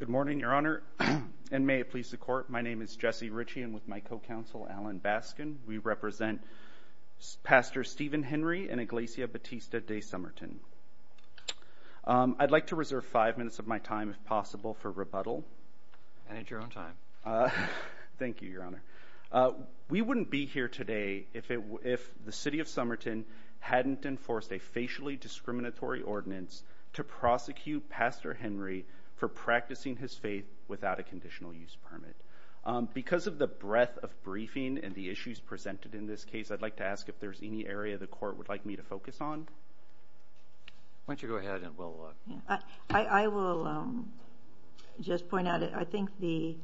Good morning, Your Honor, and may it please the Court, my name is Jesse Ritchie and with my co-counsel, Alan Baskin, we represent Pastor Stephen Henry and Iglesia Batista de Somerton. I'd like to reserve five minutes of my time, if possible, for rebuttal. I need your own time. Thank you, Your Honor. We wouldn't be here today if the City of Somerton hadn't enforced a facially discriminatory ordinance to prosecute Pastor Henry for practicing his faith without a conditional use permit. Because of the breadth of briefing and the issues presented in this case, I'd like to ask if there's any area the Court would like me to focus on. Why don't you go ahead and we'll look. I will just point out, I think the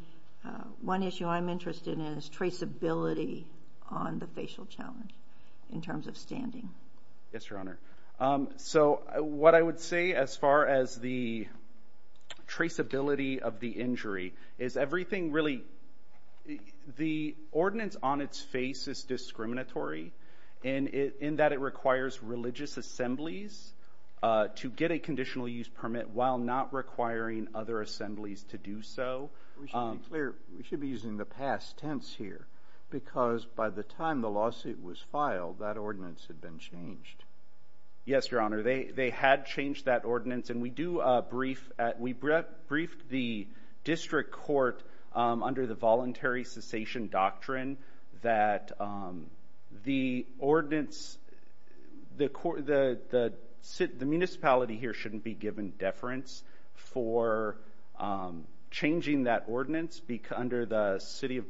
one issue I'm interested in is traceability on the facial challenge in terms of standing. Yes, Your Honor. So, what I would say as far as the traceability of the injury is everything really, the ordinance on its face is discriminatory in that it requires religious assemblies to get a conditional use permit while not requiring other assemblies to do so. We should be clear, we should be using the past tense here because by the time the lawsuit was filed, that ordinance had been changed. Yes, Your Honor. They had changed that ordinance and we briefed the District Court under the voluntary cessation doctrine that the municipality here shouldn't be given deference for changing that ordinance under the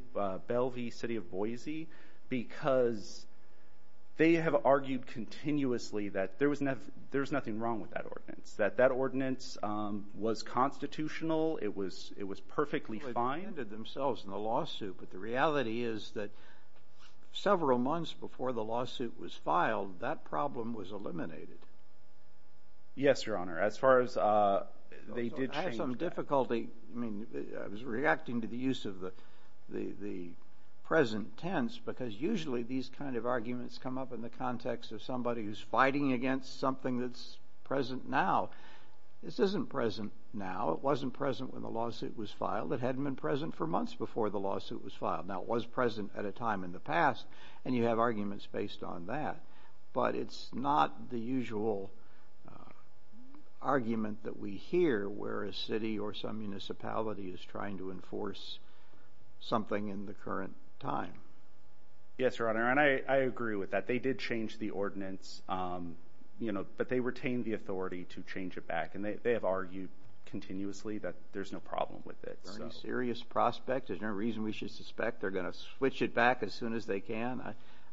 Bellevue City of Boise because they have argued continuously that there was nothing wrong with that ordinance, that that ordinance was constitutional, it was perfectly fine. They defended themselves in the lawsuit, but the reality is that several months before the lawsuit was filed, that problem was eliminated. Yes, Your Honor. As far as they did change that. I was reacting to the use of the present tense because usually these kind of arguments come up in the context of somebody who's fighting against something that's present now. This isn't present now, it wasn't present when the lawsuit was filed, it hadn't been present for months before the lawsuit was filed. Now it was present at a time in the past and you have arguments based on that, but it's not the usual argument that we hear where a city or some municipality is trying to enforce something in the current time. Yes, Your Honor, and I agree with that. They did change the ordinance, you know, but they retained the authority to change it back and they have argued continuously that there's no problem with it. Is there any serious prospect? Is there any reason we should suspect they're going to switch it back as soon as they can?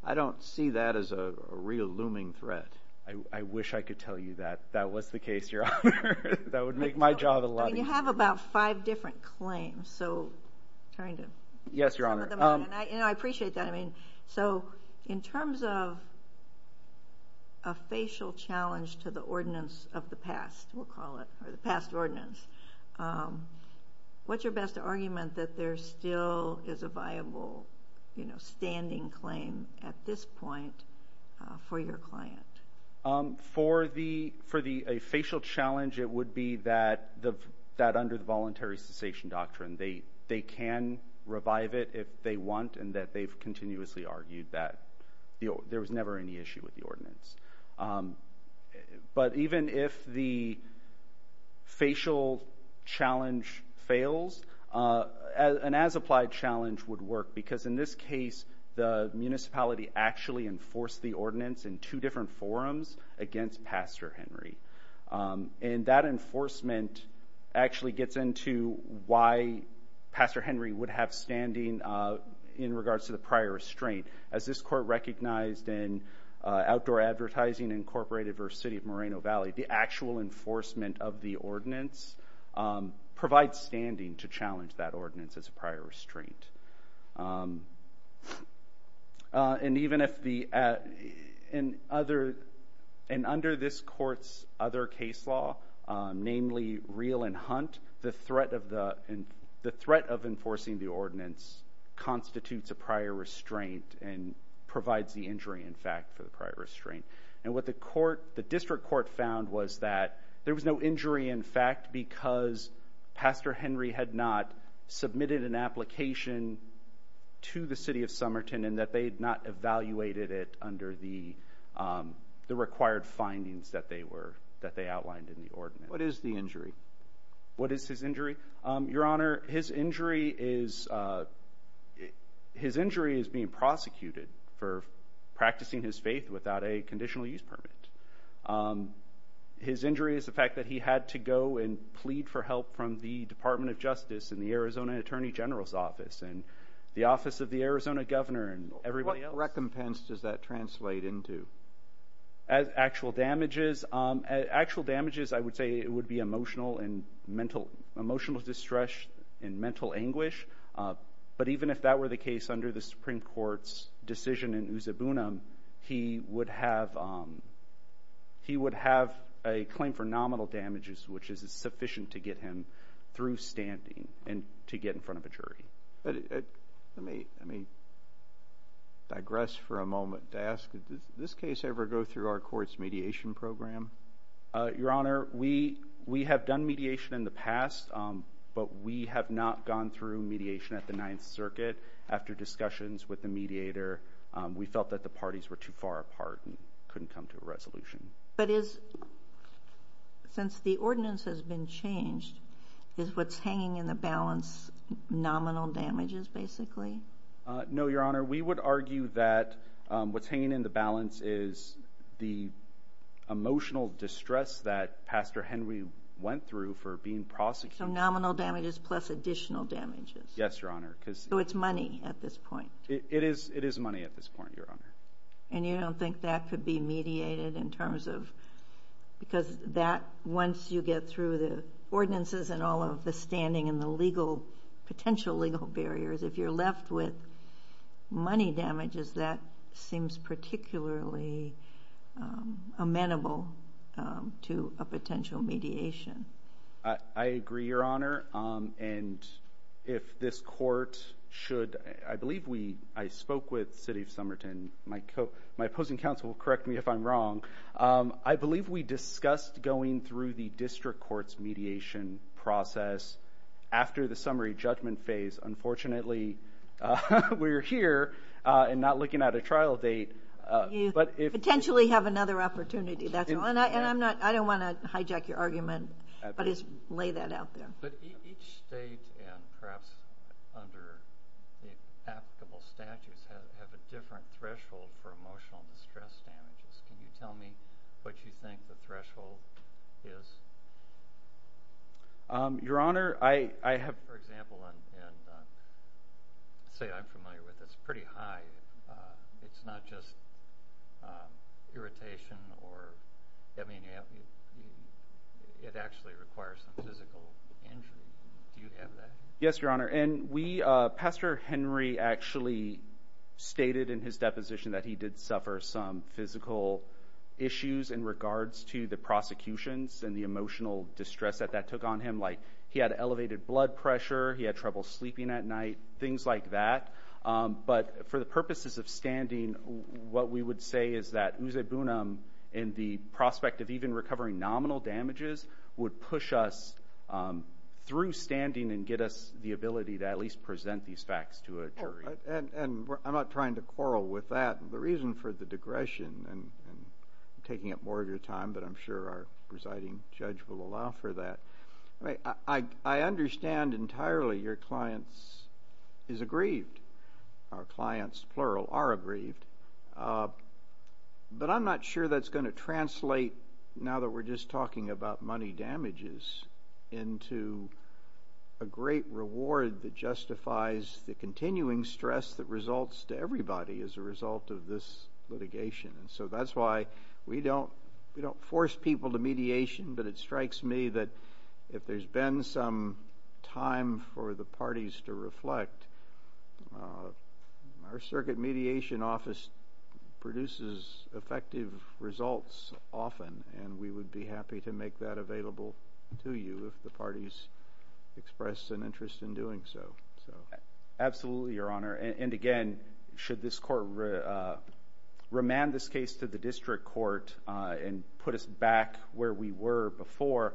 I don't see that as a real looming threat. I wish I could tell you that that was the case, Your Honor. That would make my job a lot easier. You have about five different claims, so kind of. Yes, Your Honor. And I appreciate that, I mean, so in terms of a facial challenge to the ordinance of the past, we'll call it, or the past ordinance, what's your best argument that there still is a viable, you know, standing claim at this point for your client? For a facial challenge, it would be that under the voluntary cessation doctrine, they can revive it if they want and that they've continuously argued that there was never any issue with the ordinance. But even if the facial challenge fails, an as-applied challenge would work because in this case, the municipality actually enforced the ordinance in two different forums against Pastor Henry. And that enforcement actually gets into why Pastor Henry would have standing in regards to the prior restraint. As this Court recognized in Outdoor Advertising, Inc. v. City of Moreno Valley, the actual enforcement of the ordinance provides standing to challenge that ordinance as a prior restraint. And under this Court's other case law, namely Reel and Hunt, the threat of enforcing the ordinance provides the injury, in fact, for the prior restraint. And what the District Court found was that there was no injury, in fact, because Pastor Henry had not submitted an application to the City of Somerton and that they had not evaluated it under the required findings that they outlined in the ordinance. What is his injury? Your Honor, his injury is being prosecuted for practicing his faith without a conditional use permit. His injury is the fact that he had to go and plead for help from the Department of Justice and the Arizona Attorney General's Office and the Office of the Arizona Governor and everybody else. What recompense does that translate into? Actual damages, I would say it would be emotional distress and mental anguish. But even if that were the case under the Supreme Court's decision in Usabuna, he would have a claim for nominal damages, which is sufficient to get him through standing and to get in front of a jury. Let me digress for a moment to ask, did this case ever go through our court's mediation program? Your Honor, we have done mediation in the past, but we have not gone through mediation at the Ninth Circuit. After discussions with the mediator, we felt that the parties were too far apart and couldn't come to a resolution. But since the ordinance has been changed, is what's hanging in the balance nominal damages, basically? No, Your Honor, we would argue that what's hanging in the balance is the emotional distress that Pastor Henry went through for being prosecuted. So nominal damages plus additional damages? Yes, Your Honor. So it's money at this point? It is money at this point, Your Honor. And you don't think that could be mediated in terms of, because that, once you get through the ordinances and all of the standing and the legal, potential legal barriers, if you're left with money damages, that seems particularly amenable to a potential mediation. I agree, Your Honor. And if this court should, I believe we, I spoke with the City of Somerton, my opposing counsel will correct me if I'm wrong, I believe we discussed going through the district court's mediation process after the summary judgment phase, unfortunately, we're here and not looking at a trial date. You potentially have another opportunity, that's all, and I'm not, I don't want to hijack your argument, but just lay that out there. But each state, and perhaps under the applicable statutes, have a different threshold for emotional distress damages. Can you tell me what you think the threshold is? Your Honor, I have, for example, and say I'm familiar with this, pretty high, it's not just irritation or, I mean, it actually requires some physical injury, do you have that? Yes, Your Honor, and we, Pastor Henry actually stated in his deposition that he did suffer some physical issues in regards to the prosecutions and the emotional distress that that took on him, like he had elevated blood pressure, he had trouble sleeping at night, things like that, but for the purposes of standing, what we would say is that oozebunum in the prospect of even recovering nominal damages would push us through standing and get us the ability to at least present these facts to a jury. And I'm not trying to quarrel with that, the reason for the digression, and I'm taking up more of your time, but I'm sure our presiding judge will allow for that, I understand entirely your clients is aggrieved, our clients, plural, are aggrieved, but I'm not sure that's going to translate now that we're just talking about money damages into a great reward that justifies the continuing stress that results to everybody as a result of this litigation, and so that's why we don't force people to mediation, but it strikes me that if there's been some time for the parties to reflect, our circuit mediation office produces effective results often, and we would be happy to make that available to you if the parties express an interest in doing so. Absolutely, your honor, and again, should this court remand this case to the district court and put us back where we were before,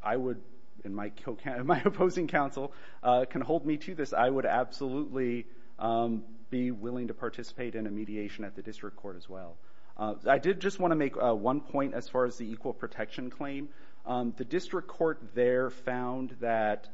I would, and my opposing counsel can hold me to this, I would absolutely be willing to participate in a mediation at the district court as well. I did just want to make one point as far as the equal protection claim. The district court there found that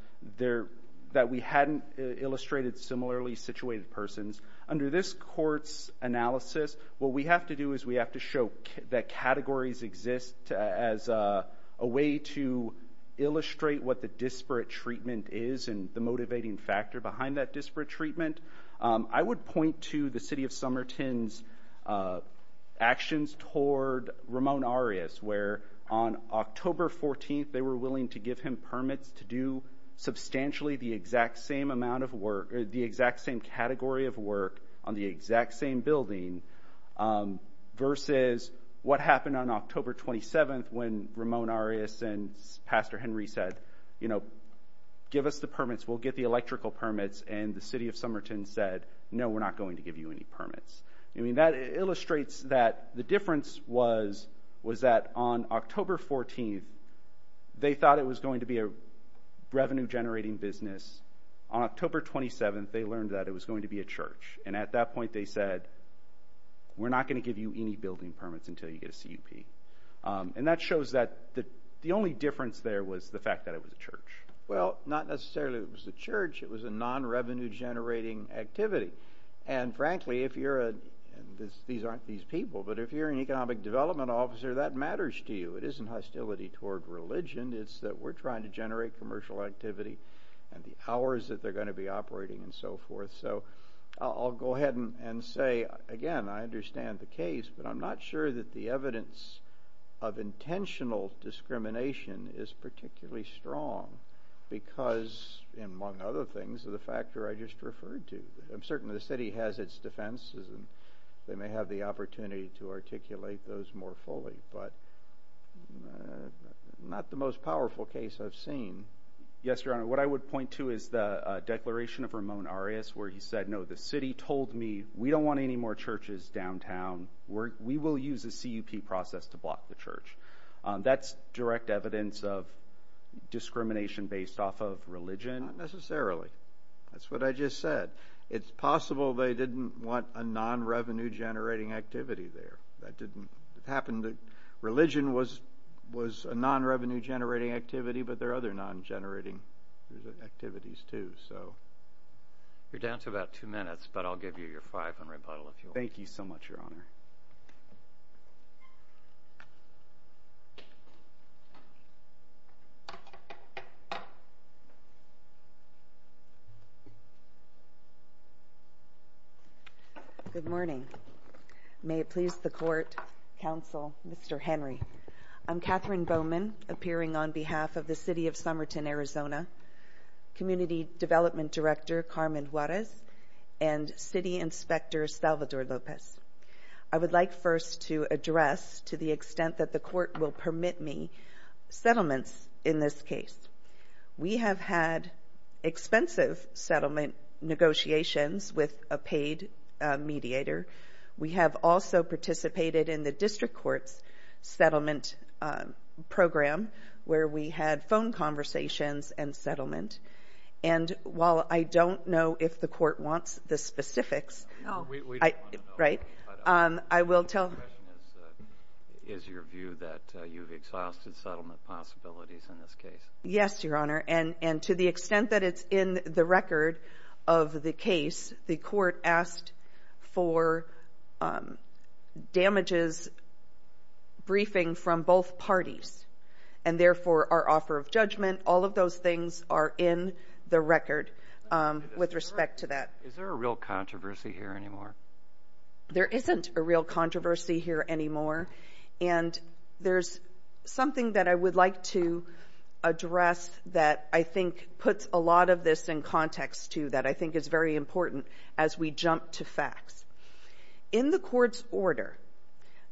we hadn't illustrated similarly situated persons. Under this court's analysis, what we have to do is we have to show that categories exist as a way to illustrate what the disparate treatment is and the motivating factor behind that disparate treatment. I would point to the city of Somerton's actions toward Ramon Arias, where on October 14th they were willing to give him permits to do substantially the exact same amount of work, the exact same category of work on the exact same building versus what happened on October 27th when Ramon Arias and Pastor Henry said, you know, give us the permits, we'll get the electrical permits, and the city of Somerton said, no, we're not going to give you any permits. I mean, that illustrates that the difference was that on October 14th they thought it was going to be a revenue-generating business. On October 27th they learned that it was going to be a church, and at that point they said, we're not going to give you any building permits until you get a CUP. And that shows that the only difference there was the fact that it was a church. Well, not necessarily it was a church, it was a non-revenue-generating activity. And frankly, if you're a – these aren't these people – but if you're an economic development officer, that matters to you. It isn't hostility toward religion, it's that we're trying to generate commercial activity and the hours that they're going to be operating and so forth. So I'll go ahead and say, again, I understand the case, but I'm not sure that the evidence of intentional discrimination is particularly strong because, among other things, of the factor I just referred to. I'm certain the city has its defenses, and they may have the opportunity to articulate those more fully, but not the most powerful case I've seen. Yes, Your Honor, what I would point to is the declaration of Ramon Arias, where he said, no, the city told me we don't want any more churches downtown. We will use the CUP process to block the church. That's direct evidence of discrimination based off of religion? Not necessarily. That's what I just said. It's possible they didn't want a non-revenue-generating activity there. It happened that religion was a non-revenue-generating activity, but there are other non-generating activities, too. You're down to about two minutes, but I'll give you your five and rebuttal if you want. Thank you so much, Your Honor. Good morning. May it please the Court, Counsel, Mr. Henry. I'm Katherine Bowman, appearing on behalf of the City of Somerton, Arizona, Community Development Director Carmen Juarez, and City Inspector Salvador Lopez. I would like first to address, to the extent that the Court will permit me, settlements in this case. We have had expensive settlement negotiations with a paid mediator. We have also participated in the District Court's settlement program, where we had phone conversations and settlement. And while I don't know if the Court wants the specifics, I will tell— The question is, is your view that you've exhausted settlement possibilities in this case? Yes, Your Honor. And to the extent that it's in the record of the case, the Court asked for damages briefing from both parties. And therefore, our offer of judgment, all of those things are in the record with respect to that. Is there a real controversy here anymore? There isn't a real controversy here anymore. And there's something that I would like to address that I think puts a lot of this in context, too, that I think is very important as we jump to facts. In the Court's order,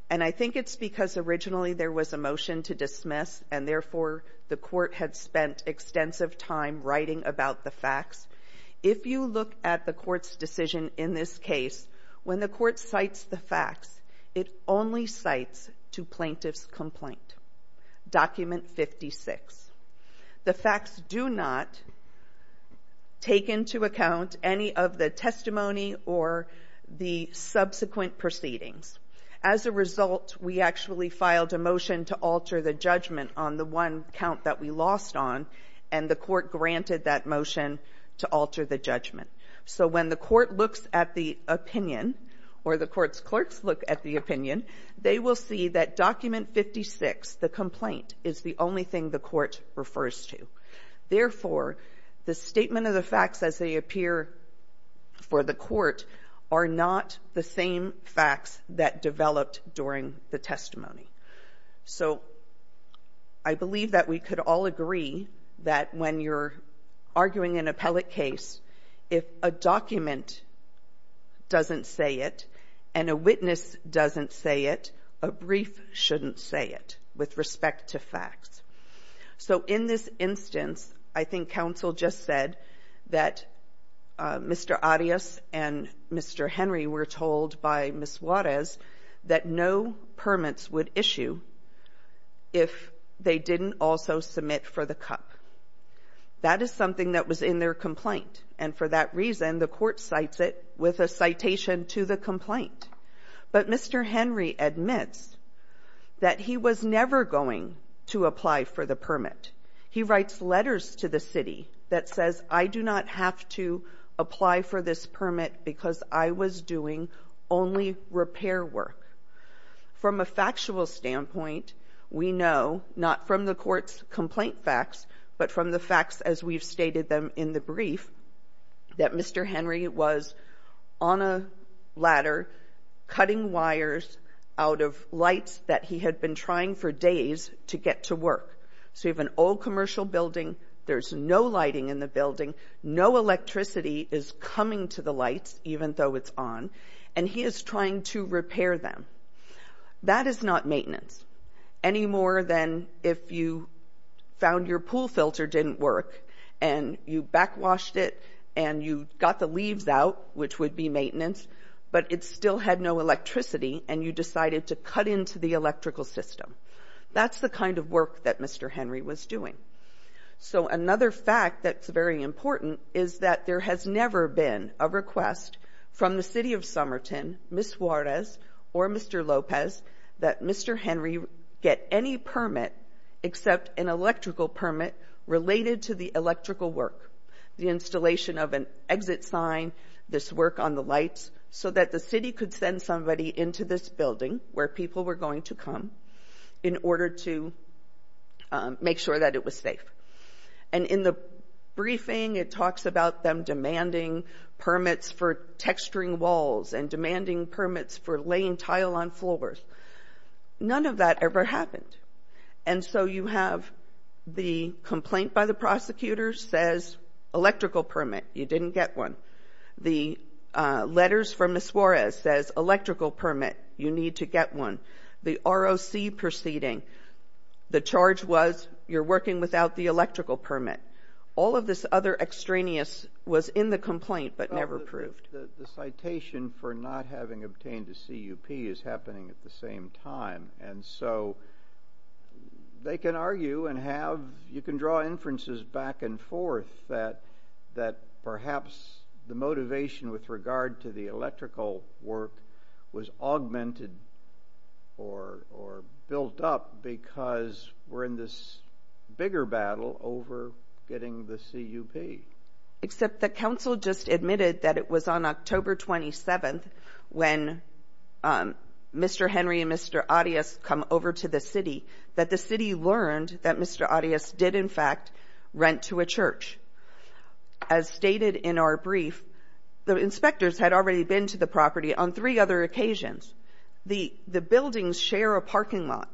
and I think it's because originally there was a motion to dismiss, and therefore the Court had spent extensive time writing about the facts. If you look at the Court's decision in this case, when the Court cites the facts, it only cites to plaintiff's complaint, Document 56. The facts do not take into account any of the testimony or the subsequent proceedings. As a result, we actually filed a motion to alter the judgment on the one count that we lost on, and the Court granted that motion to alter the judgment. So when the Court looks at the opinion, or the Court's clerks look at the opinion, they will see that Document 56, the complaint, is the only thing the Court refers to. Therefore, the statement of the facts as they appear for the Court are not the same facts that developed during the testimony. So I believe that we could all agree that when you're arguing an appellate case, if a document doesn't say it and a witness doesn't say it, a brief shouldn't say it with respect to facts. So in this instance, I think counsel just said that Mr. Arias and Mr. Henry were told by Ms. Juarez that no permits would issue if they didn't also submit for the cup. That is something that was in their complaint, and for that reason, the Court cites it with a citation to the complaint. But Mr. Henry admits that he was never going to apply for the permit. He writes letters to the city that says, I do not have to apply for this permit because I was doing only repair work. From a factual standpoint, we know, not from the Court's complaint facts, but from the facts as we've stated them in the brief, that Mr. Henry was on a ladder cutting wires out of lights that he had been trying for days to get to work. So you have an old commercial building, there's no lighting in the building, no electricity is coming to the lights, even though it's on, and he is trying to repair them. That is not maintenance, any more than if you found your pool filter didn't work and you backwashed it and you got the leaves out, which would be maintenance, but it still had no electricity and you decided to cut into the electrical system. That's the kind of work that Mr. Henry was doing. So another fact that's very important is that there has never been a request from the city of Somerton, Ms. Juarez, or Mr. Lopez, that Mr. Henry get any permit except an electrical permit related to the electrical work. The installation of an exit sign, this work on the lights, so that the city could send somebody into this building where people were going to come in order to make sure that it was safe. And in the briefing, it talks about them demanding permits for texturing walls and demanding permits for laying tile on floors. None of that ever happened. And so you have the complaint by the prosecutor says electrical permit, you didn't get one. The letters from Ms. Juarez says electrical permit, you need to get one. The ROC proceeding, the charge was you're working without the electrical permit. All of this other extraneous was in the complaint, but never proved. The citation for not having obtained the CUP is happening at the same time, and so they can argue and have, you can draw inferences back and forth that perhaps the motivation with regard to the electrical work was augmented or built up because we're in this bigger battle over getting the CUP. Except the council just admitted that it was on October 27th when Mr. Henry and Mr. Arias come over to the city, that the city learned that Mr. Arias did in fact rent to a church. As stated in our brief, the inspectors had already been to the property on three other occasions. The buildings share a parking lot,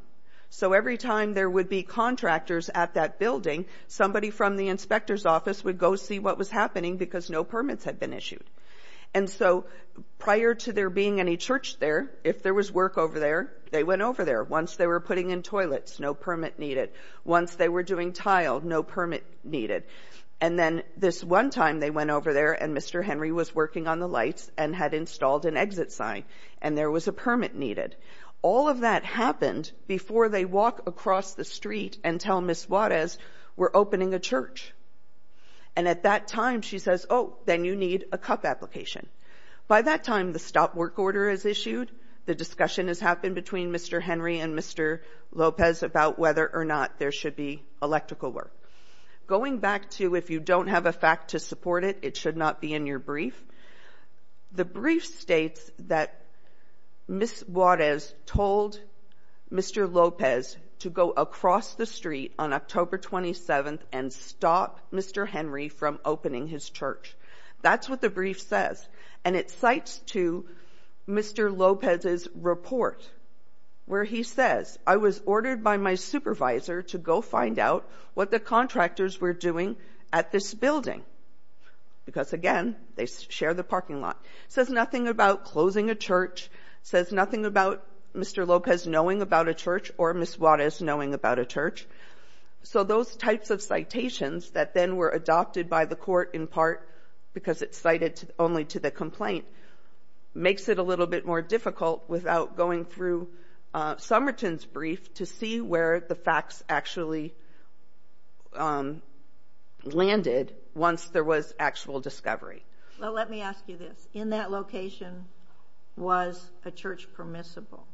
so every time there would be contractors at that building, somebody from the inspector's office would go see what was happening because no permits had been issued. And so prior to there being any church there, if there was work over there, they went over there. Once they were putting in toilets, no permit needed. Once they were doing tile, no permit needed. And then this one time they went over there and Mr. Henry was working on the lights and had installed an exit sign, and there was a permit needed. All of that happened before they walk across the street and tell Ms. Juarez, we're opening a church. And at that time, she says, oh, then you need a CUP application. By that time, the stop work order is issued, the discussion has happened between Mr. Henry and Mr. Lopez about whether or not there should be electrical work. Going back to if you don't have a fact to support it, it should not be in your brief, the brief states that Ms. Juarez told Mr. Lopez to go across the street on October 27th and stop Mr. Henry from opening his church. That's what the brief says. And it cites to Mr. Lopez's report, where he says, I was ordered by my supervisor to go find out what the contractors were doing at this building, because again, they share the parking lot. It says nothing about closing a church, says nothing about Mr. Lopez knowing about a church or Ms. Juarez knowing about a church. So those types of citations that then were adopted by the court in part because it's only to the complaint makes it a little bit more difficult without going through Somerton's brief to see where the facts actually landed once there was actual discovery. Well, let me ask you this. In that location, was a church permissible?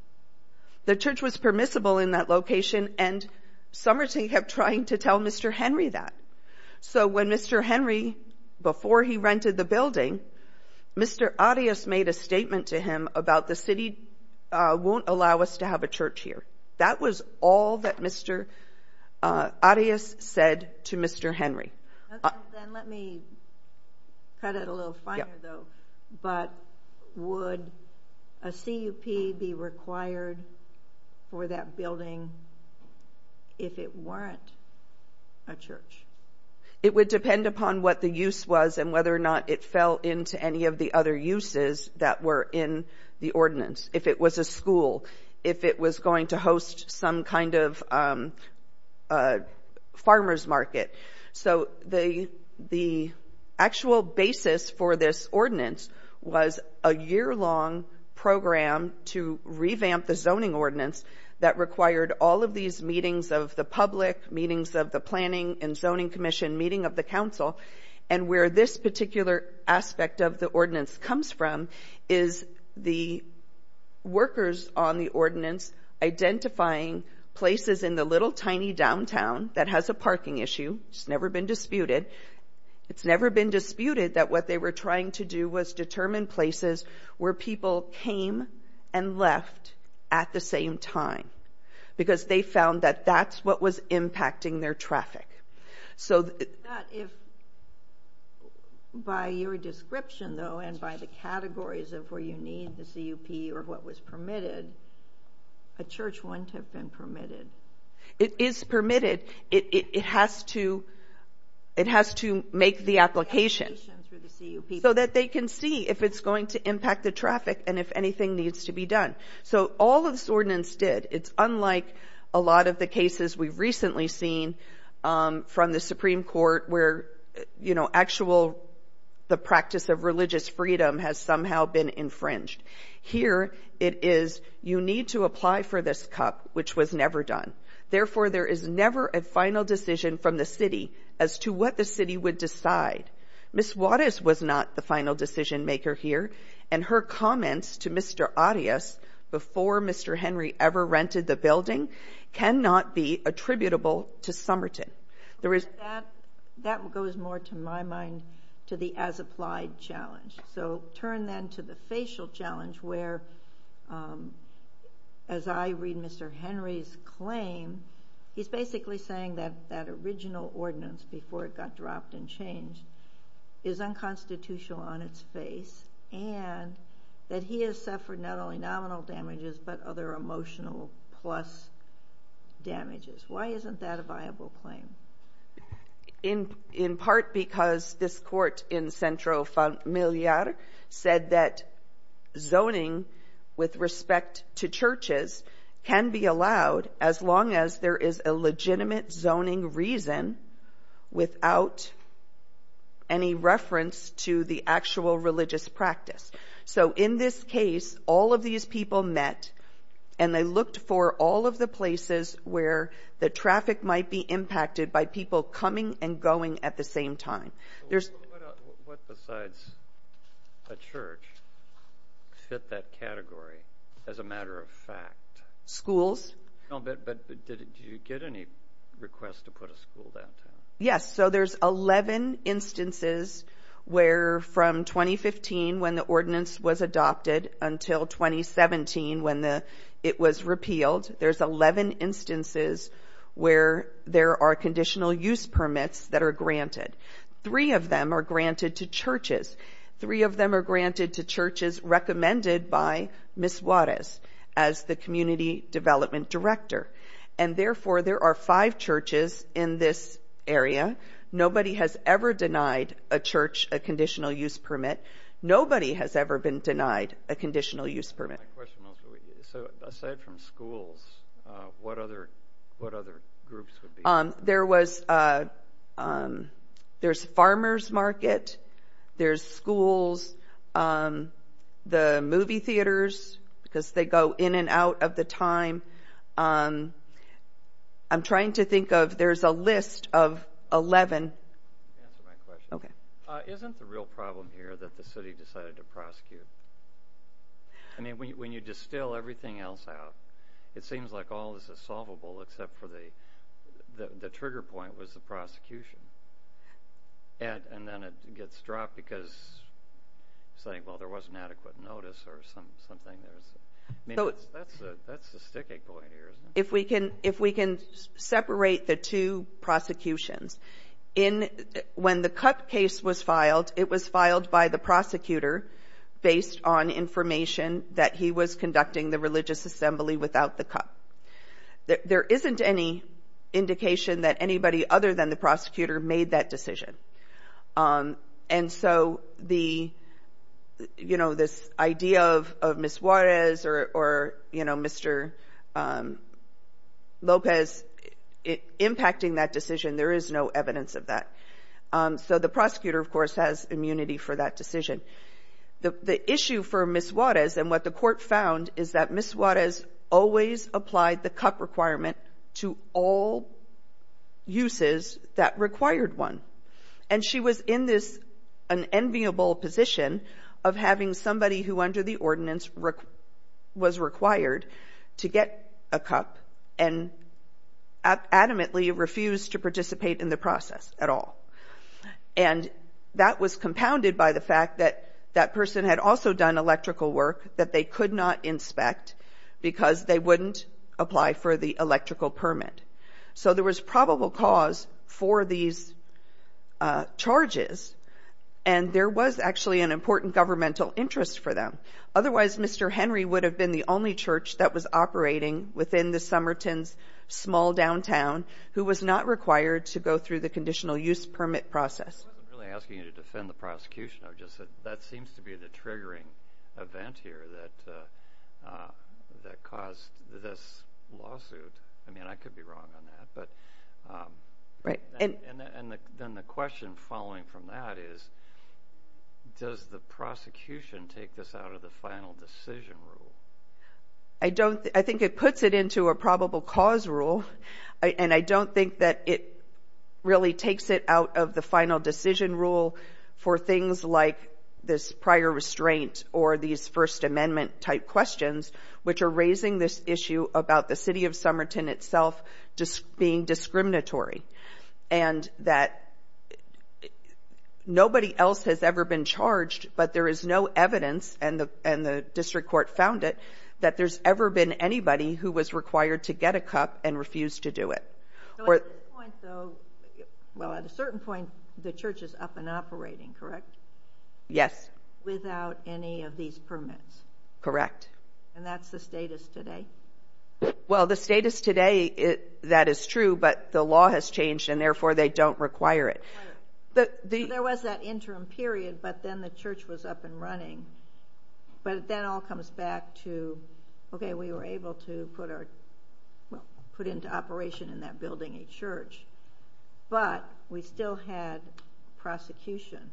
The church was permissible in that location, and Somerton kept trying to tell Mr. Henry that. So when Mr. Henry, before he rented the building, Mr. Arias made a statement to him about the city won't allow us to have a church here. That was all that Mr. Arias said to Mr. Henry. Okay, then let me cut it a little finer, though. But would a CUP be required for that building if it weren't a church? It would depend upon what the use was and whether or not it fell into any of the other uses that were in the ordinance. If it was a school, if it was going to host some kind of farmer's market. So the actual basis for this ordinance was a year-long program to revamp the zoning ordinance that required all of these meetings of the public, meetings of the Planning and Zoning Commission, meeting of the council. And where this particular aspect of the ordinance comes from is the workers on the ordinance identifying places in the little tiny downtown that has a parking issue, it's never been disputed, it's never been disputed that what they were trying to do was determine places where people came and left at the same time. Because they found that that's what was impacting their traffic. So that if, by your description, though, and by the categories of where you need the CUP or what was permitted, a church wouldn't have been permitted. It is permitted. It has to make the application so that they can see if it's going to impact the traffic and if anything needs to be done. So all of this ordinance did. It's unlike a lot of the cases we've recently seen from the Supreme Court where, you know, actual, the practice of religious freedom has somehow been infringed. Here it is, you need to apply for this CUP, which was never done. Therefore, there is never a final decision from the city as to what the city would decide. Ms. Wattis was not the final decision maker here, and her comments to Mr. Arias before Mr. Henry ever rented the building cannot be attributable to Somerton. That goes more, to my mind, to the as-applied challenge. So turn then to the facial challenge where, as I read Mr. Henry's claim, he's basically saying that that original ordinance, before it got dropped and changed, is unconstitutional on its face and that he has suffered not only nominal damages but other emotional plus damages. Why isn't that a viable claim? In part because this court in Centro Familiar said that zoning with respect to churches can be allowed as long as there is a legitimate zoning reason without any reference to the actual religious practice. So in this case, all of these people met and they looked for all of the places where the traffic might be impacted by people coming and going at the same time. What besides a church fit that category, as a matter of fact? Schools. But did you get any requests to put a school downtown? Yes, so there's 11 instances where from 2015 when the ordinance was adopted until 2017 when it was repealed, there's 11 instances where there are conditional use permits that are granted. Three of them are granted to churches. Three of them are granted to churches recommended by Ms. Juarez as the community development director and therefore there are five churches in this area. Nobody has ever denied a church a conditional use permit. Nobody has ever been denied a conditional use permit. So aside from schools, what other groups would be? There's farmer's market, there's schools, the movie theaters because they go in and out of the time. I'm trying to think of, there's a list of 11. Answer my question. Okay. Isn't the real problem here that the city decided to prosecute? When you distill everything else out, it seems like all is solvable except for the trigger point was the prosecution and then it gets dropped because saying, well, there wasn't adequate notice or something, that's the sticking point here, isn't it? If we can separate the two prosecutions, when the CUP case was filed, it was filed by the prosecutor based on information that he was conducting the religious assembly without the CUP. There isn't any indication that anybody other than the prosecutor made that decision. And so this idea of Ms. Juarez or Mr. Lopez impacting that decision, there is no evidence of that. So the prosecutor, of course, has immunity for that decision. The issue for Ms. Juarez and what the court found is that Ms. Juarez always applied the required one and she was in this enviable position of having somebody who under the ordinance was required to get a CUP and adamantly refused to participate in the process at all. And that was compounded by the fact that that person had also done electrical work that they could not inspect because they wouldn't apply for the electrical permit. So there was probable cause for these charges and there was actually an important governmental interest for them. Otherwise, Mr. Henry would have been the only church that was operating within the Somerton's small downtown who was not required to go through the conditional use permit process. I wasn't really asking you to defend the prosecution, I just said that seems to be the triggering event here that caused this lawsuit. I mean, I could be wrong on that. Then the question following from that is, does the prosecution take this out of the final decision rule? I think it puts it into a probable cause rule and I don't think that it really takes it out of the final decision rule for things like this prior restraint or these First Amendment type questions which are raising this issue about the city of Somerton itself being discriminatory and that nobody else has ever been charged, but there is no evidence and the district court found it, that there's ever been anybody who was required to get a CUP and refused to do it. At a certain point, the church is up and operating, correct? Yes. Without any of these permits? Correct. And that's the status today? Well, the status today, that is true, but the law has changed and therefore they don't require it. There was that interim period, but then the church was up and running, but then it all to put into operation in that building a church, but we still had prosecution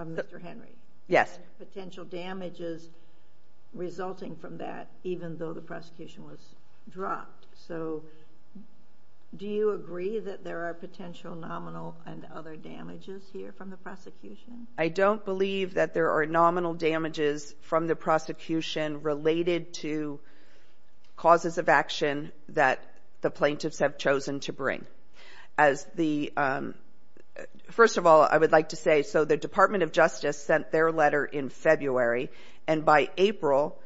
of Mr. Henry. Yes. Potential damages resulting from that, even though the prosecution was dropped. Do you agree that there are potential nominal and other damages here from the prosecution? I don't believe that there are nominal damages from the prosecution related to causes of action that the plaintiffs have chosen to bring. First of all, I would like to say, so the Department of Justice sent their letter in February and by April,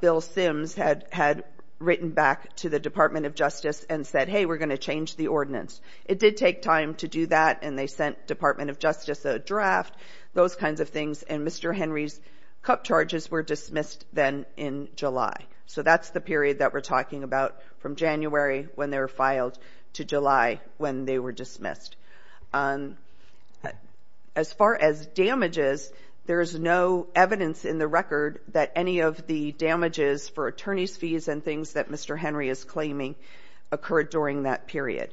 Bill Sims had written back to the Department of Justice and said, It did take time to do that and they sent Department of Justice a draft, those kinds of things, and Mr. Henry's cup charges were dismissed then in July. So that's the period that we're talking about from January when they were filed to July when they were dismissed. As far as damages, there is no evidence in the record that any of the damages for attorney's claiming occurred during that period.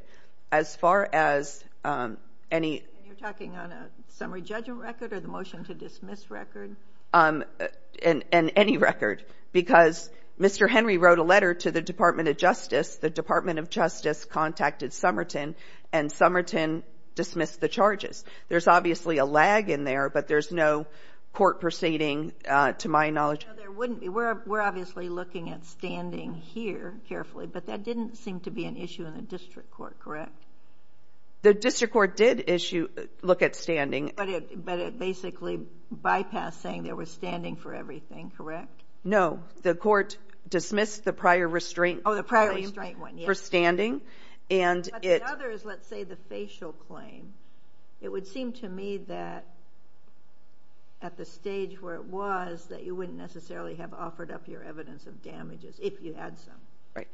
As far as any- And you're talking on a summary judgment record or the motion to dismiss record? In any record, because Mr. Henry wrote a letter to the Department of Justice. The Department of Justice contacted Somerton and Somerton dismissed the charges. There's obviously a lag in there, but there's no court proceeding, to my knowledge. No, there wouldn't be. We're obviously looking at standing here carefully, but that didn't seem to be an issue in the district court, correct? The district court did look at standing. But it basically bypassed saying there was standing for everything, correct? No, the court dismissed the prior restraint- Oh, the prior restraint one, yes. For standing. But the others, let's say the facial claim, it would seem to me that at the stage where it was, that you wouldn't necessarily have offered up your evidence of damages if you had some. Right.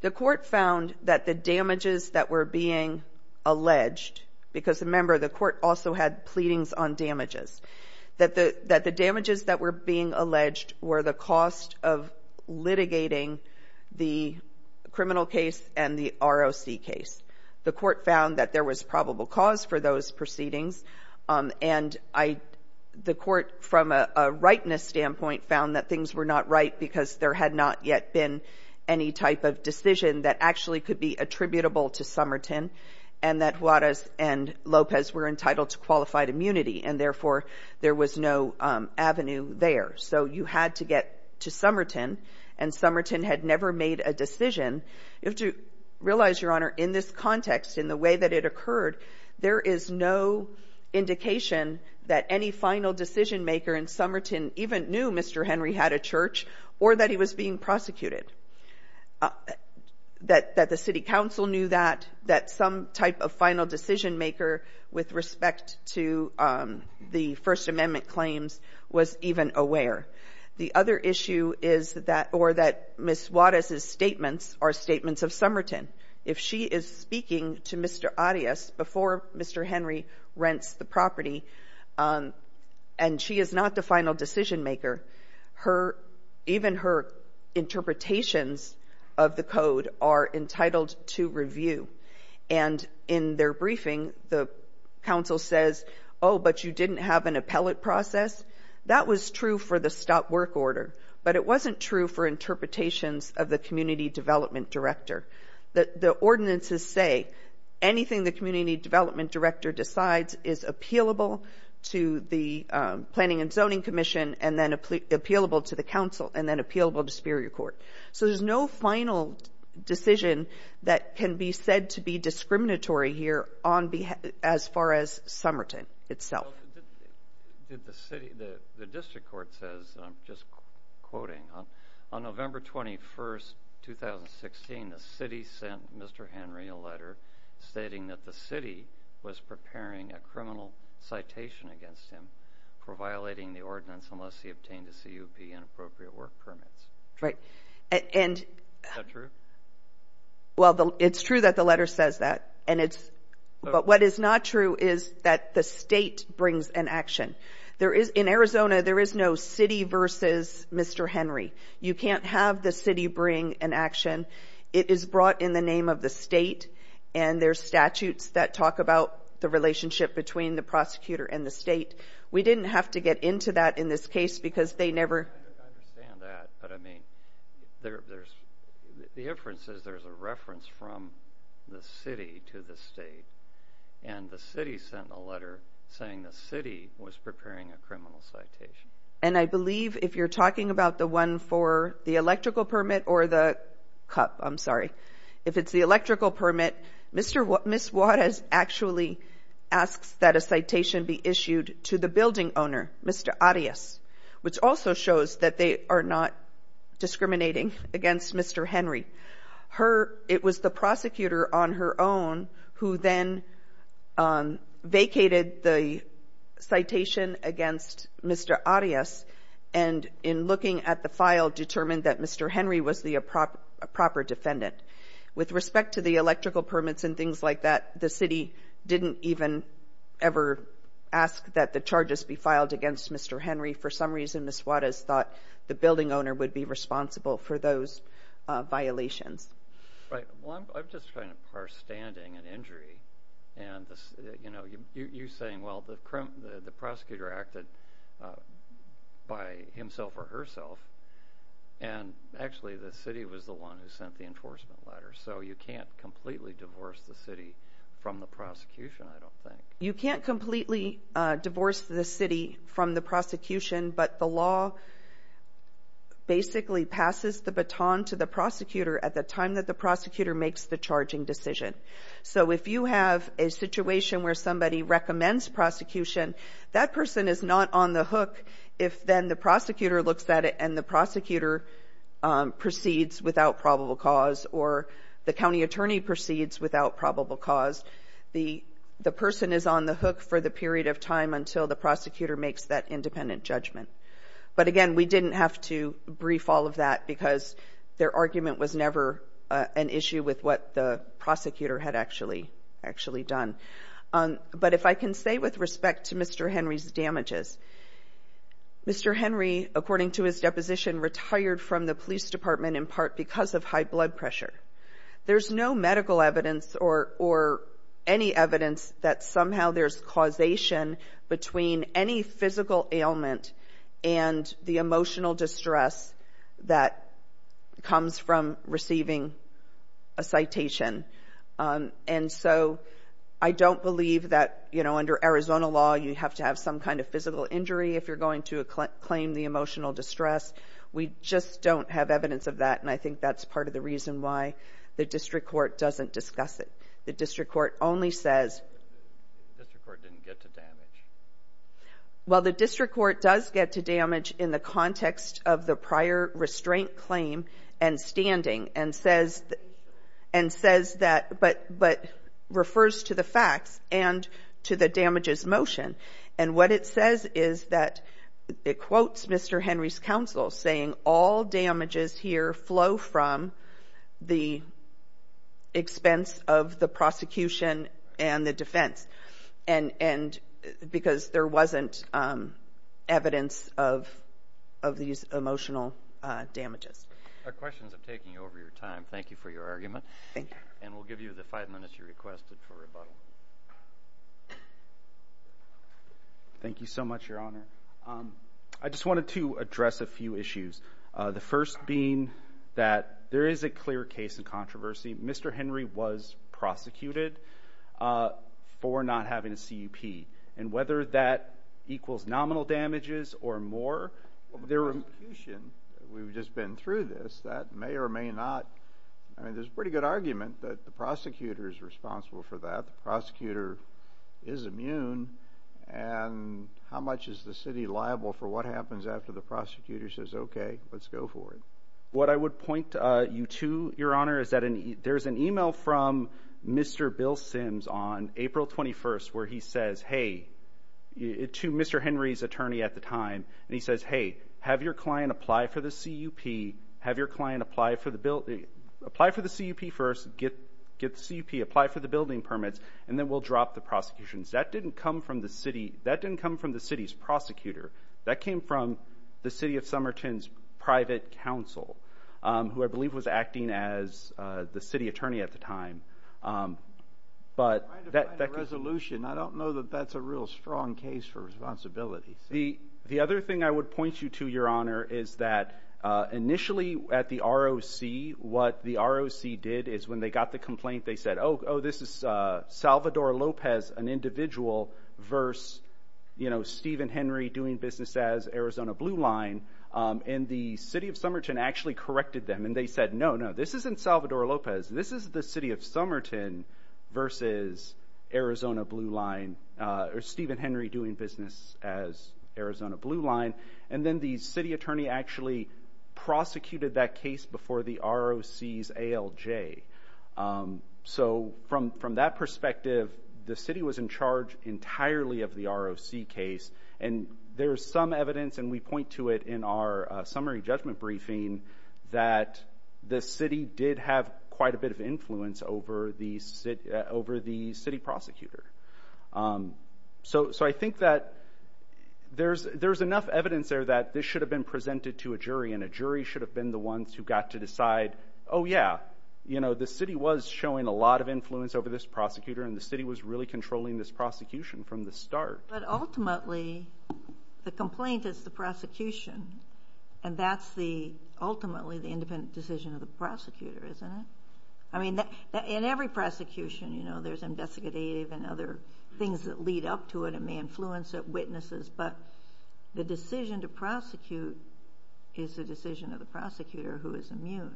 The court found that the damages that were being alleged, because remember, the court also had pleadings on damages, that the damages that were being alleged were the cost of litigating the criminal case and the ROC case. The court found that there was probable cause for those proceedings. And the court, from a rightness standpoint, found that things were not right because there had not yet been any type of decision that actually could be attributable to Somerton and that Juarez and Lopez were entitled to qualified immunity. And therefore, there was no avenue there. So you had to get to Somerton, and Somerton had never made a decision. You have to realize, Your Honor, in this context, in the way that it occurred, there is no indication that any final decision maker in Somerton even knew Mr. Henry had a church or that he was being prosecuted, that the city council knew that, that some type of final decision maker with respect to the First Amendment claims was even aware. The other issue is that, or that Ms. Juarez's statements are statements of Somerton. If she is speaking to Mr. Arias before Mr. Henry rents the property, and she is not the final decision maker, her, even her interpretations of the code are entitled to review. And in their briefing, the council says, oh, but you didn't have an appellate process. That was true for the stop work order. But it wasn't true for interpretations of the community development director. The ordinances say anything the community development director decides is appealable to the Planning and Zoning Commission, and then appealable to the council, and then appealable to Superior Court. So there's no final decision that can be said to be discriminatory here on behalf, as far as Somerton itself. Well, did the city, the district court says, and I'm just quoting, on November 21st, 2016, the city sent Mr. Henry a letter stating that the city was preparing a criminal citation against him for violating the ordinance unless he obtained a CUP, inappropriate work permits. Right. And. Is that true? Well, it's true that the letter says that, and it's, but what is not true is that the state brings an action. There is, in Arizona, there is no city versus Mr. Henry. You can't have the city bring an action. It is brought in the name of the state, and there's statutes that talk about the relationship between the prosecutor and the state. We didn't have to get into that in this case, because they never. I understand that, but I mean, there's, the inference is there's a reference from the state, and the city sent a letter saying the city was preparing a criminal citation. And I believe if you're talking about the one for the electrical permit or the CUP, I'm sorry, if it's the electrical permit, Mr. Watt, Ms. Watt has actually asked that a citation be issued to the building owner, Mr. Arias, which also shows that they are not discriminating against Mr. Henry. Her, it was the prosecutor on her own who then vacated the citation against Mr. Arias, and in looking at the file, determined that Mr. Henry was the proper defendant. With respect to the electrical permits and things like that, the city didn't even ever ask that the charges be filed against Mr. Henry. For some reason, Ms. Watt has thought the building owner would be responsible for those violations. Right. Well, I'm just trying to parse standing and injury, and you know, you're saying, well, the prosecutor acted by himself or herself, and actually the city was the one who sent the enforcement letter. So you can't completely divorce the city from the prosecution, I don't think. You can't completely divorce the city from the prosecution, but the law basically passes the baton to the prosecutor at the time that the prosecutor makes the charging decision. So if you have a situation where somebody recommends prosecution, that person is not on the hook. If then the prosecutor looks at it and the prosecutor proceeds without probable cause or the county attorney proceeds without probable cause, the person is on the hook for the period of time until the prosecutor makes that independent judgment. But again, we didn't have to brief all of that because their argument was never an issue with what the prosecutor had actually done. But if I can say with respect to Mr. Henry's damages, Mr. Henry, according to his deposition, retired from the police department in part because of high blood pressure. There's no medical evidence or any evidence that somehow there's causation between any physical ailment and the emotional distress that comes from receiving a citation. And so I don't believe that, you know, under Arizona law, you have to have some kind of We just don't have evidence of that. And I think that's part of the reason why the district court doesn't discuss it. The district court only says. The district court didn't get to damage. Well the district court does get to damage in the context of the prior restraint claim and standing and says and says that but but refers to the facts and to the damages motion. And what it says is that it quotes Mr. Henry's counsel saying all damages here flow from the expense of the prosecution and the defense and and because there wasn't evidence of of these emotional damages. Questions of taking over your time. Thank you for your argument. Thank you. And we'll give you the five minutes you requested for rebuttal. Thank you so much, your honor. I just wanted to address a few issues. The first being that there is a clear case of controversy. Mr. Henry was prosecuted for not having a CEP and whether that equals nominal damages or more. There were we've just been through this. That may or may not. I mean, there's a pretty good argument that the prosecutor is responsible for that. Prosecutor is immune and how much is the city liable for what happens after the prosecutor says, OK, let's go for it. What I would point you to, your honor, is that there's an email from Mr. Bill Sims on April 21st where he says, hey, to Mr. Henry's attorney at the time and he says, hey, have your client apply for the CEP, have your client apply for the bill, apply for the CEP first, get the CEP, apply for the building permits, and then we'll drop the prosecution. That didn't come from the city. That didn't come from the city's prosecutor. That came from the city of Somerton's private counsel, who I believe was acting as the city attorney at the time. But that resolution, I don't know that that's a real strong case for responsibility. The other thing I would point you to, your honor, is that initially at the ROC, what the ROC did is when they got the complaint, they said, oh, oh, this is Salvador Lopez, an individual, versus, you know, Stephen Henry doing business as Arizona Blue Line. And the city of Somerton actually corrected them and they said, no, no, this isn't Salvador Lopez. This is the city of Somerton versus Arizona Blue Line, or Stephen Henry doing business as Arizona Blue Line. And then the city attorney actually prosecuted that case before the ROC's ALJ. So from that perspective, the city was in charge entirely of the ROC case, and there is some evidence, and we point to it in our summary judgment briefing, that the city did have quite a bit of influence over the city prosecutor. So, I think that there's enough evidence there that this should have been presented to a jury, and a jury should have been the ones who got to decide, oh, yeah, you know, the city was showing a lot of influence over this prosecutor, and the city was really controlling this prosecution from the start. But ultimately, the complaint is the prosecution, and that's the, ultimately, the independent decision of the prosecutor, isn't it? I mean, in every prosecution, you know, there's investigative and other things that lead up to it, and may influence it, witnesses, but the decision to prosecute is the decision of the prosecutor who is immune.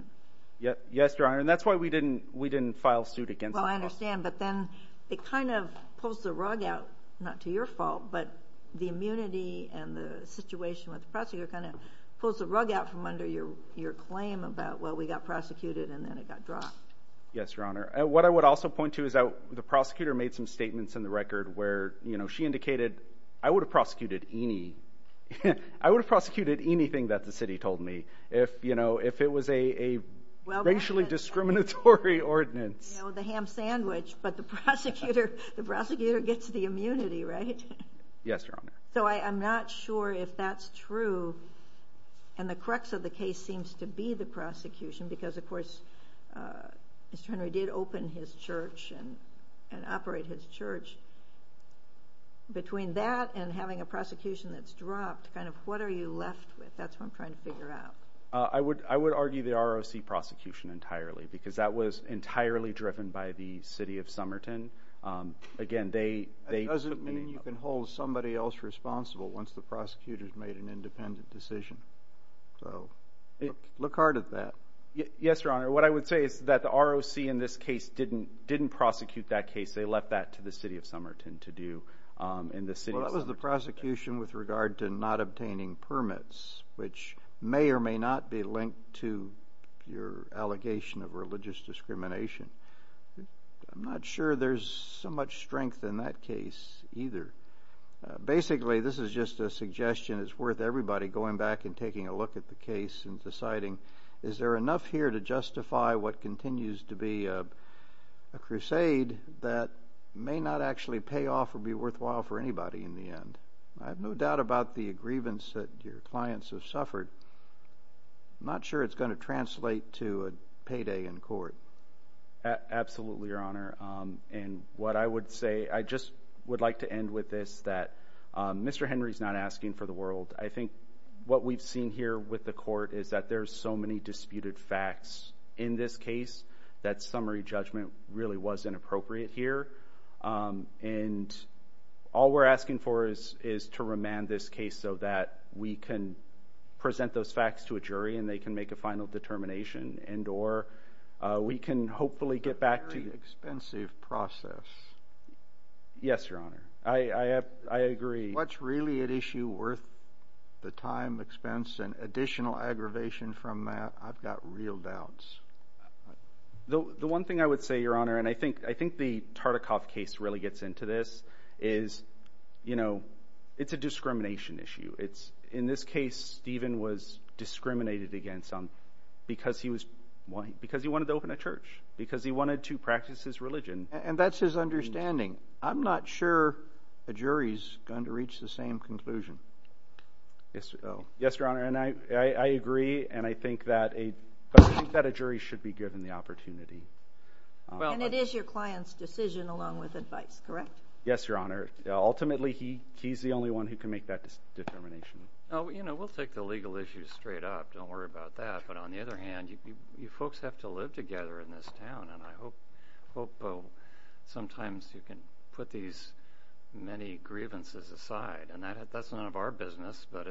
Yes, Your Honor, and that's why we didn't file suit against the prosecutor. Well, I understand, but then it kind of pulls the rug out, not to your fault, but the immunity and the situation with the prosecutor kind of pulls the rug out from under your claim about, well, we got prosecuted, and then it got dropped. Yes, Your Honor, what I would also point to is that the prosecutor made some statements in the record where, you know, she indicated, I would have prosecuted any, I would have prosecuted anything that the city told me if, you know, if it was a racially discriminatory ordinance. You know, the ham sandwich, but the prosecutor, the prosecutor gets the immunity, right? Yes, Your Honor. So I'm not sure if that's true, and the crux of the case seems to be the prosecution, because of course, Mr. Henry did open his church and operate his church. Between that and having a prosecution that's dropped, kind of what are you left with? That's what I'm trying to figure out. I would argue the ROC prosecution entirely, because that was entirely driven by the city of Somerton. Again, they... That doesn't mean you can hold somebody else responsible once the prosecutor's made an independent decision, so look hard at that. Yes, Your Honor. What I would say is that the ROC in this case didn't prosecute that case. They left that to the city of Somerton to do, and the city... Well, that was the prosecution with regard to not obtaining permits, which may or may not be linked to your allegation of religious discrimination. I'm not sure there's so much strength in that case either. Basically, this is just a suggestion that's worth everybody going back and taking a look at the case and deciding, is there enough here to justify what continues to be a crusade that may not actually pay off or be worthwhile for anybody in the end? I have no doubt about the grievance that your clients have suffered. I'm not sure it's going to translate to a payday in court. Absolutely, Your Honor. What I would say... I just would like to end with this, that Mr. Henry's not asking for the world. I think what we've seen here with the court is that there's so many disputed facts in this case that summary judgment really was inappropriate here. All we're asking for is to remand this case so that we can present those facts to a jury and they can make a final determination, and or we can hopefully get back to... It's a very expensive process. Yes, Your Honor. I agree. What's really at issue worth the time, expense, and additional aggravation from that? I've got real doubts. The one thing I would say, Your Honor, and I think the Tartikoff case really gets into this is, you know, it's a discrimination issue. In this case, Stephen was discriminated against because he wanted to open a church, because he wanted to practice his religion. And that's his understanding. I'm not sure a jury's going to reach the same conclusion. Yes, Your Honor. I agree, and I think that a jury should be given the opportunity. And it is your client's decision along with advice, correct? Yes, Your Honor. Ultimately, he's the only one who can make that determination. You know, we'll take the legal issues straight up. Don't worry about that. But on the other hand, you folks have to live together in this town, and I hope sometimes you can put these many grievances aside. And that's none of our business, but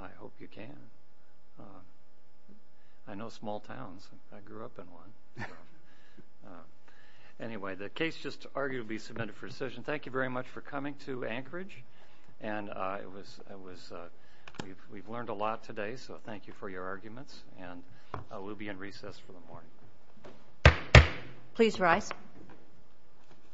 I hope you can. I know small towns. I grew up in one. Anyway, the case just arguably submitted for decision. Thank you very much for coming to Anchorage. And we've learned a lot today, so thank you for your arguments. And we'll be in recess for the morning. Please rise.